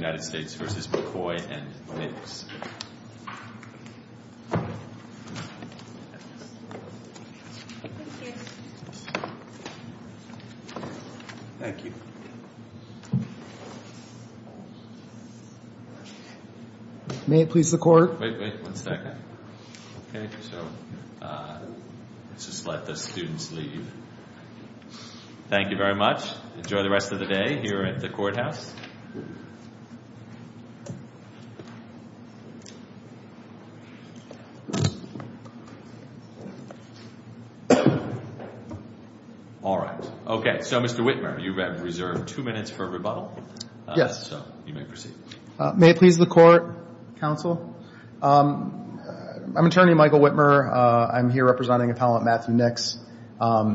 United States v. McCoy. Thank you very much. Enjoy the rest of the day here at the courthouse. All right. Okay. So Mr. Whitmer, you have reserved two minutes for rebuttal. Yes. So you may proceed. May it please the court, counsel. I'm attorney Michael Whitmer. I'm here representing appellant Matthew Nix.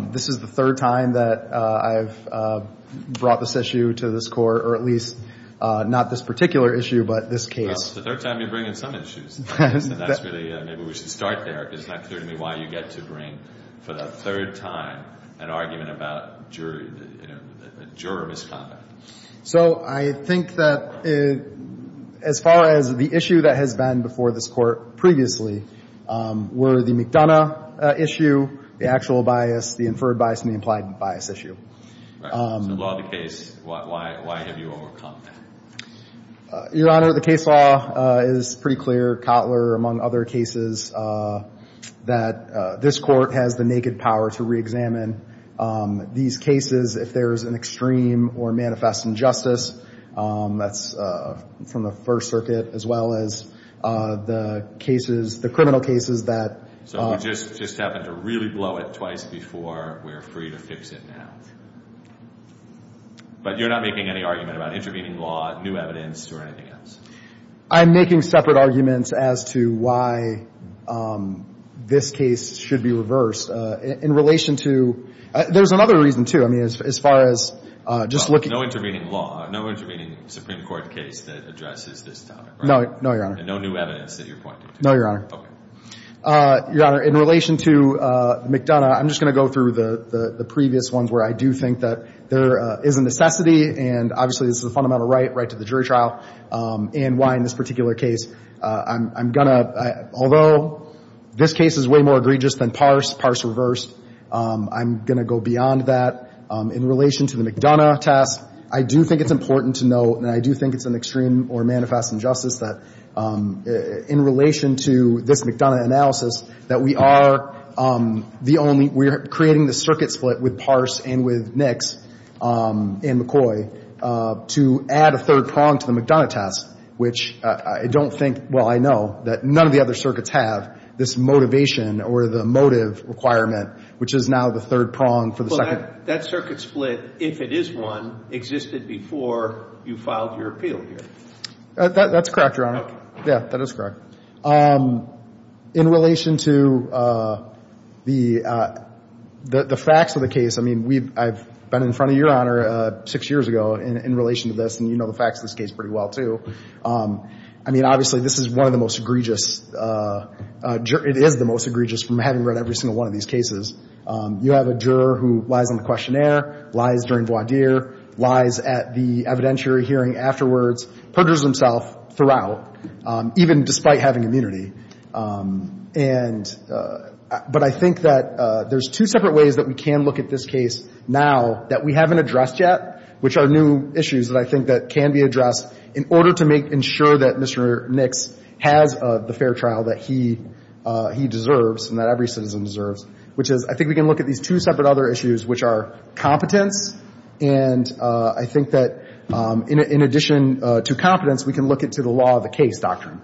This is the third time that I've brought this issue to this court, or at least not this particular issue, but this case. No, it's the third time you bring in some issues. And that's really maybe we should start there, because it's not clear to me why you get to bring for the third time an argument about jury, you know, a juror misconduct. So I think that as far as the issue that has been before this court previously were the McDonough issue, the actual bias, the inferred bias, and the implied bias issue. Right. So the law of the case, why have you overcome that? Your Honor, the case law is pretty clear. Cotler, among other cases, that this court has the naked power to reexamine these cases if there is an extreme or manifest injustice that's from the First Circuit, as well as the cases, the criminal cases that. So we just happen to really blow it twice before we're free to fix it now. But you're not making any argument about intervening law, new evidence, or anything else. I'm making separate arguments as to why this case should be reversed in relation to. There's another reason, too. I mean, as far as just looking. No intervening law, no intervening Supreme Court case that addresses this topic. No, Your Honor. And no new evidence that you're pointing to. No, Your Honor. Okay. Your Honor, in relation to McDonough, I'm just going to go through the previous ones where I do think that there is a necessity, and obviously, this is a fundamental right, right to the jury trial, and why in this particular case. I'm going to, although this case is way more egregious than Parse, Parse reversed, I'm going to go beyond that. In relation to the McDonough test, I do think it's important to note, and I do think it's an extreme or manifest injustice, that in relation to this McDonough analysis, that we are the only, we're creating the circuit split with Parse and with Nix and McCoy to add a third prong to the McDonough test, which I don't think, well, I know, that none of the other circuits have this motivation or the motive requirement, which is now the third prong for the second. So that circuit split, if it is one, existed before you filed your appeal here? That's correct, Your Honor. Okay. Yeah, that is correct. In relation to the facts of the case, I mean, I've been in front of Your Honor six years ago in relation to this, and you know the facts of this case pretty well, too. I mean, obviously, this is one of the most egregious, it is the most egregious from having read every single one of these cases. You have a juror who lies on the questionnaire, lies during voir dire, lies at the evidentiary hearing afterwards, perjures himself throughout, even despite having immunity. And, but I think that there's two separate ways that we can look at this case now that we haven't addressed yet, which are new issues that I think that can be addressed in order to make, ensure that Mr. Nix has the fair trial that he deserves and that every citizen deserves, which is, I think we can look at these two separate other issues, which are competence, and I think that in addition to competence, we can look into the law of the case doctrine.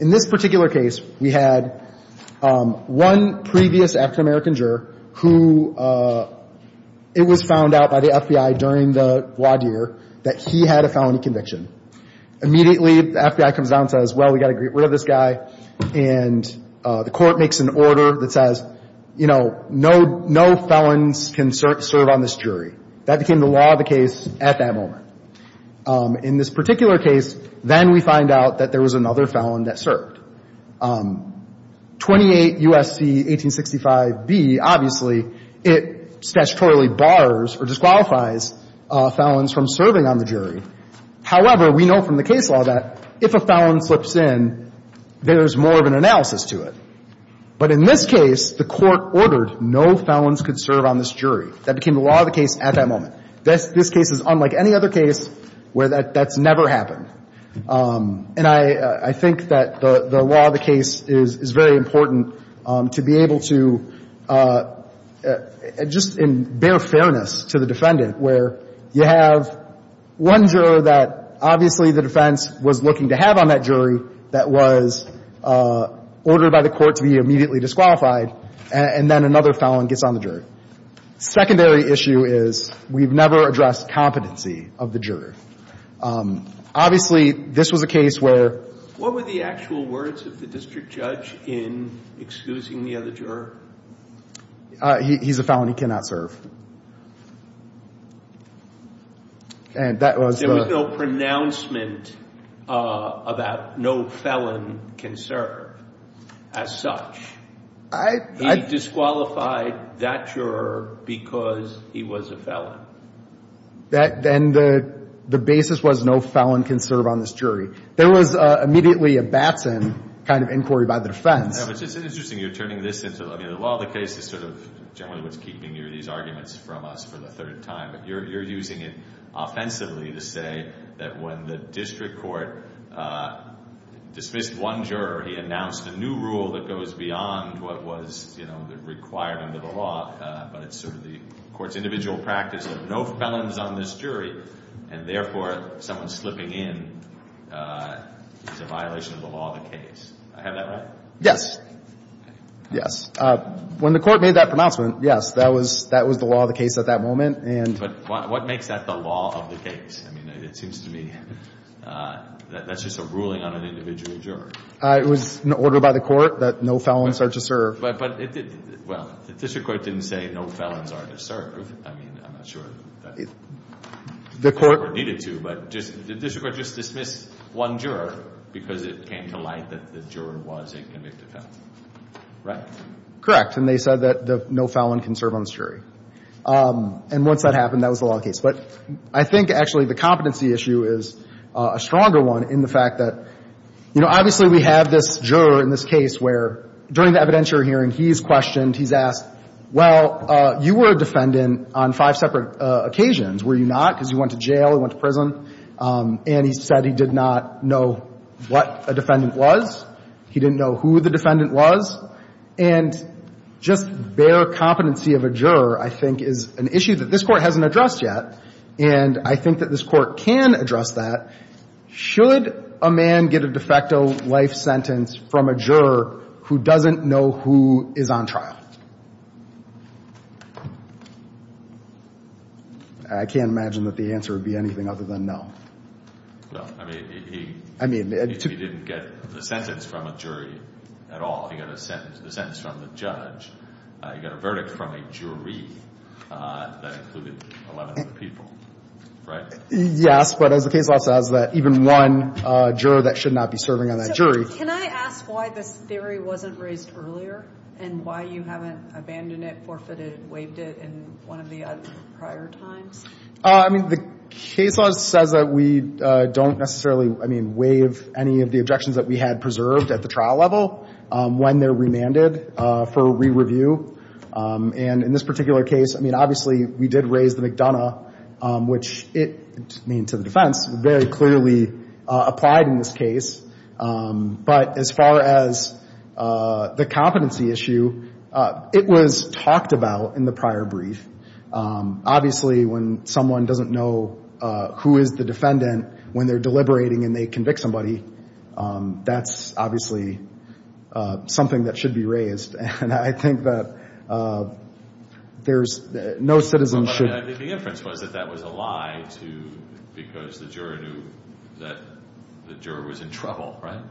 In this particular case, we had one previous African-American juror who, it was found out by the FBI during the voir dire that he had a felony conviction. Immediately, the FBI comes down and says, well, we've got to get rid of this guy, and the court makes an order that says, you know, no felons can serve on this jury. That became the law of the case at that moment. In this particular case, then we find out that there was another felon that served. 28 U.S.C. 1865b, obviously, it statutorily bars or disqualifies felons from serving on the jury. However, we know from the case law that if a felon slips in, there's more of an analysis to it. But in this case, the court ordered no felons could serve on this jury. That became the law of the case at that moment. This case is unlike any other case where that's never happened. And I think that the law of the case is very important to be able to, just in bare fairness to the defendant, where you have one juror that obviously the defense was looking to have on that jury that was ordered by the court to be immediately disqualified, and then another felon gets on the jury. Secondary issue is we've never addressed competency of the juror. Obviously, this was a case where — What were the actual words of the district judge in excusing the other juror? He's a felon. He cannot serve. And that was the — There was no pronouncement about no felon can serve as such. I — He disqualified that juror because he was a felon. Then the basis was no felon can serve on this jury. There was immediately a Batson kind of inquiry by the defense. Yeah, but it's interesting you're turning this into — I mean, the law of the case is sort of generally what's keeping these arguments from us for the third time. But you're using it offensively to say that when the district court dismissed one juror, he announced a new rule that goes beyond what was, you know, required under the law, but it's sort of the court's individual practice of no felons on this jury, and therefore someone slipping in is a violation of the law of the case. I have that right? Yes. Yes. When the court made that pronouncement, yes, that was the law of the case at that moment. But what makes that the law of the case? I mean, it seems to me that's just a ruling on an individual juror. It was an order by the court that no felons are to serve. But it — well, the district court didn't say no felons are to serve. I mean, I'm not sure that the court needed to. But the district court just dismissed one juror because it came to light that the juror was a convicted felon. Right? Correct. And they said that no felon can serve on this jury. And once that happened, that was the law of the case. But I think, actually, the competency issue is a stronger one in the fact that, you know, obviously we have this juror in this case where, during the evidentiary hearing, he's questioned, he's asked, well, you were a defendant on five separate occasions, were you not? Because you went to jail, you went to prison. And he said he did not know what a defendant was. He didn't know who the defendant was. And just bare competency of a juror, I think, is an issue that this Court hasn't addressed yet. And I think that this Court can address that. Should a man get a de facto life sentence from a juror who doesn't know who is on trial? I can't imagine that the answer would be anything other than no. Well, I mean, he — I mean — He didn't get the sentence from a jury at all. He got a sentence from the judge. He got a verdict from a jury that included 11 other people. Right? Yes. But as the case law says, that even one juror, that should not be serving on that jury. So can I ask why this theory wasn't raised earlier and why you haven't abandoned it, forfeited it, waived it in one of the prior times? I mean, the case law says that we don't necessarily, I mean, waive any of the objections that we had preserved at the trial level. When they're remanded for re-review. And in this particular case, I mean, obviously, we did raise the McDonough, which it, I mean, to the defense, very clearly applied in this case. But as far as the competency issue, it was talked about in the prior brief. Obviously, when someone doesn't know who is the defendant when they're deliberating and they convict somebody, that's obviously something that should be raised. And I think that there's no citizenship. I think the inference was that that was a lie because the juror knew that the juror was in trouble. Right?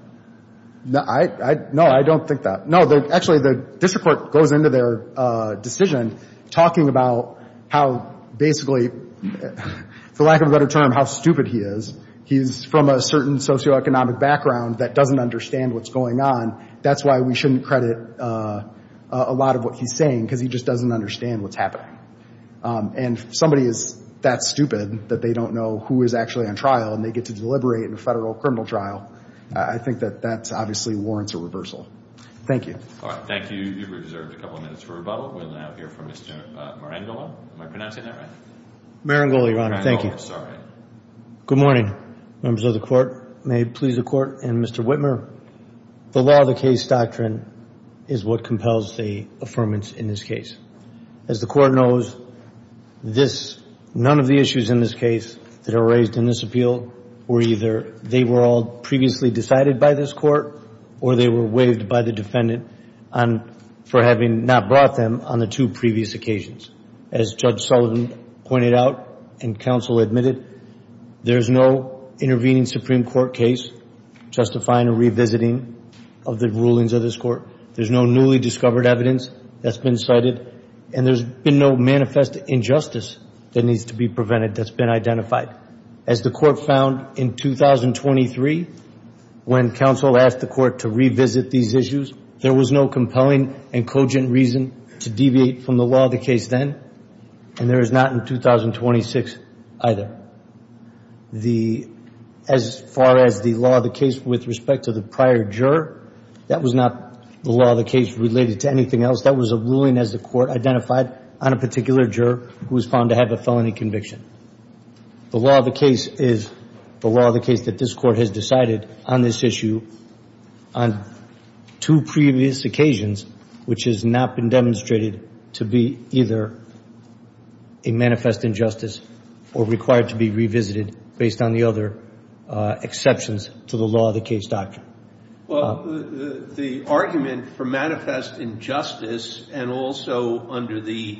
No, I don't think that. No, actually, the district court goes into their decision talking about how basically, for lack of a better term, how stupid he is. He's from a certain socioeconomic background that doesn't understand what's going on. That's why we shouldn't credit a lot of what he's saying because he just doesn't understand what's happening. And if somebody is that stupid that they don't know who is actually on trial and they get to deliberate in a federal criminal trial, I think that that obviously warrants a reversal. Thank you. All right. Thank you. You've reserved a couple minutes for rebuttal. We'll now hear from Mr. Marangoli. Am I pronouncing that right? Marangoli, Your Honor. Thank you. I'm sorry. Good morning, members of the Court. May it please the Court and Mr. Whitmer. The law of the case doctrine is what compels the affirmance in this case. As the Court knows, none of the issues in this case that are raised in this appeal were either they were all previously decided by this Court or they were waived by the defendant for having not brought them on the two previous occasions. As Judge Sullivan pointed out and counsel admitted, there's no intervening Supreme Court case justifying a revisiting of the rulings of this Court. There's no newly discovered evidence that's been cited, and there's been no manifest injustice that needs to be prevented that's been identified. As the Court found in 2023 when counsel asked the Court to revisit these issues, there was no compelling and cogent reason to deviate from the law of the case then, and there is not in 2026 either. As far as the law of the case with respect to the prior juror, that was not the law of the case related to anything else. That was a ruling as the Court identified on a particular juror who was found to have a felony conviction. The law of the case is the law of the case that this Court has decided on this issue on two previous occasions, which has not been demonstrated to be either a manifest injustice or required to be revisited based on the other exceptions to the law of the case doctrine. Well, the argument for manifest injustice and also under the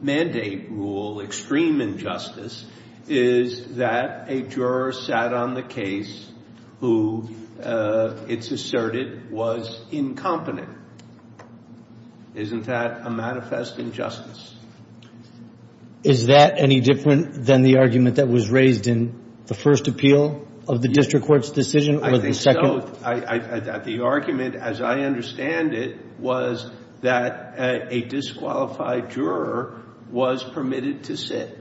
mandate rule, extreme injustice, is that a juror sat on the case who it's asserted was incompetent. Isn't that a manifest injustice? Is that any different than the argument that was raised in the first appeal of the district court's decision or the second? I think so. The argument, as I understand it, was that a disqualified juror was permitted to sit,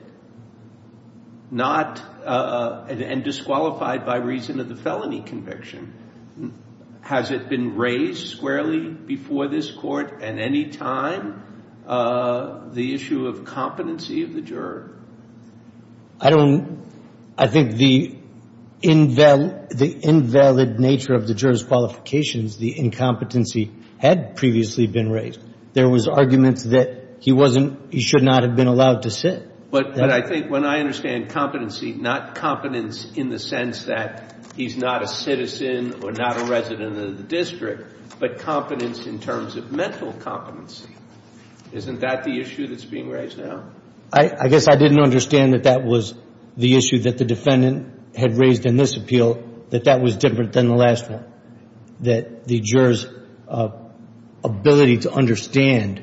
and disqualified by reason of the felony conviction. Has it been raised squarely before this Court at any time, the issue of competency of the juror? I don't – I think the invalid nature of the juror's qualifications, the incompetency, had previously been raised. There was argument that he wasn't – he should not have been allowed to sit. But I think when I understand competency, not competence in the sense that he's not a citizen or not a resident of the district, but competence in terms of mental competency, isn't that the issue that's being raised now? I guess I didn't understand that that was the issue that the defendant had raised in this appeal, that that was different than the last one, that the juror's ability to understand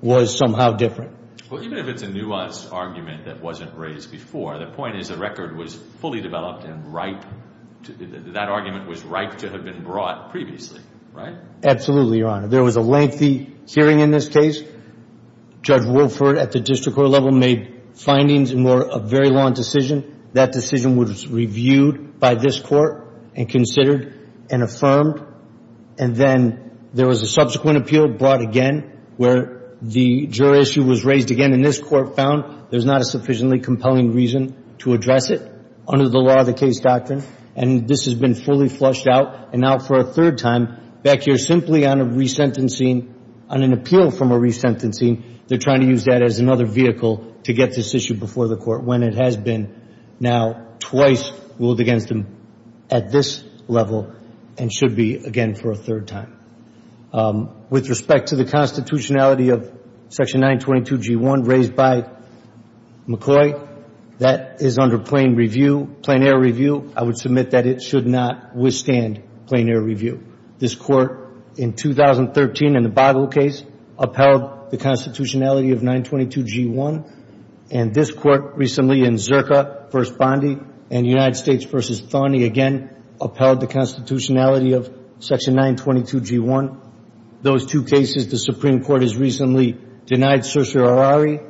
was somehow different. Well, even if it's a nuanced argument that wasn't raised before, the point is the record was fully developed and ripe – that argument was ripe to have been brought previously, right? Absolutely, Your Honor. There was a lengthy hearing in this case. Judge Wilford at the district court level made findings in a very long decision. That decision was reviewed by this Court and considered and affirmed. And then there was a subsequent appeal brought again where the juror issue was raised again, and this Court found there's not a sufficiently compelling reason to address it under the law of the case doctrine. And this has been fully flushed out and out for a third time. Back here, simply on a resentencing – on an appeal from a resentencing, they're trying to use that as another vehicle to get this issue before the Court, when it has been now twice ruled against them at this level and should be again for a third time. With respect to the constitutionality of Section 922G1 raised by McCoy, that is under plain review – plain air review. I would submit that it should not withstand plain air review. This Court in 2013 in the Bible case upheld the constitutionality of 922G1, and this Court recently in Zerka v. Bondi and United States v. Thawney again upheld the constitutionality of Section 922G1. Those two cases, the Supreme Court has recently denied certiorari,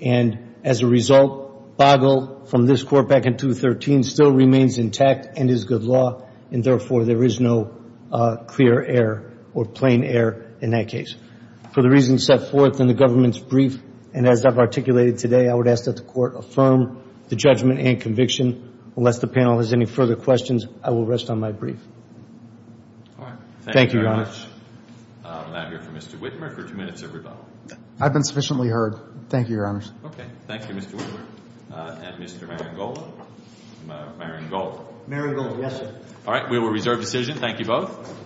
and as a result, Bagel from this Court back in 2013 still remains intact and is good law, and therefore there is no clear air or plain air in that case. For the reasons set forth in the government's brief and as I've articulated today, I would ask that the Court affirm the judgment and conviction. Unless the panel has any further questions, I will rest on my brief. Thank you, Your Honor. All right. Thank you very much. We'll now hear from Mr. Whitmer for two minutes of rebuttal. I've been sufficiently heard. Thank you, Your Honors. Okay. Thank you, Mr. Whitmer. And Mr. Marangold. Marangold. Marangold, yes, sir. All right. We will reserve decision. Thank you both.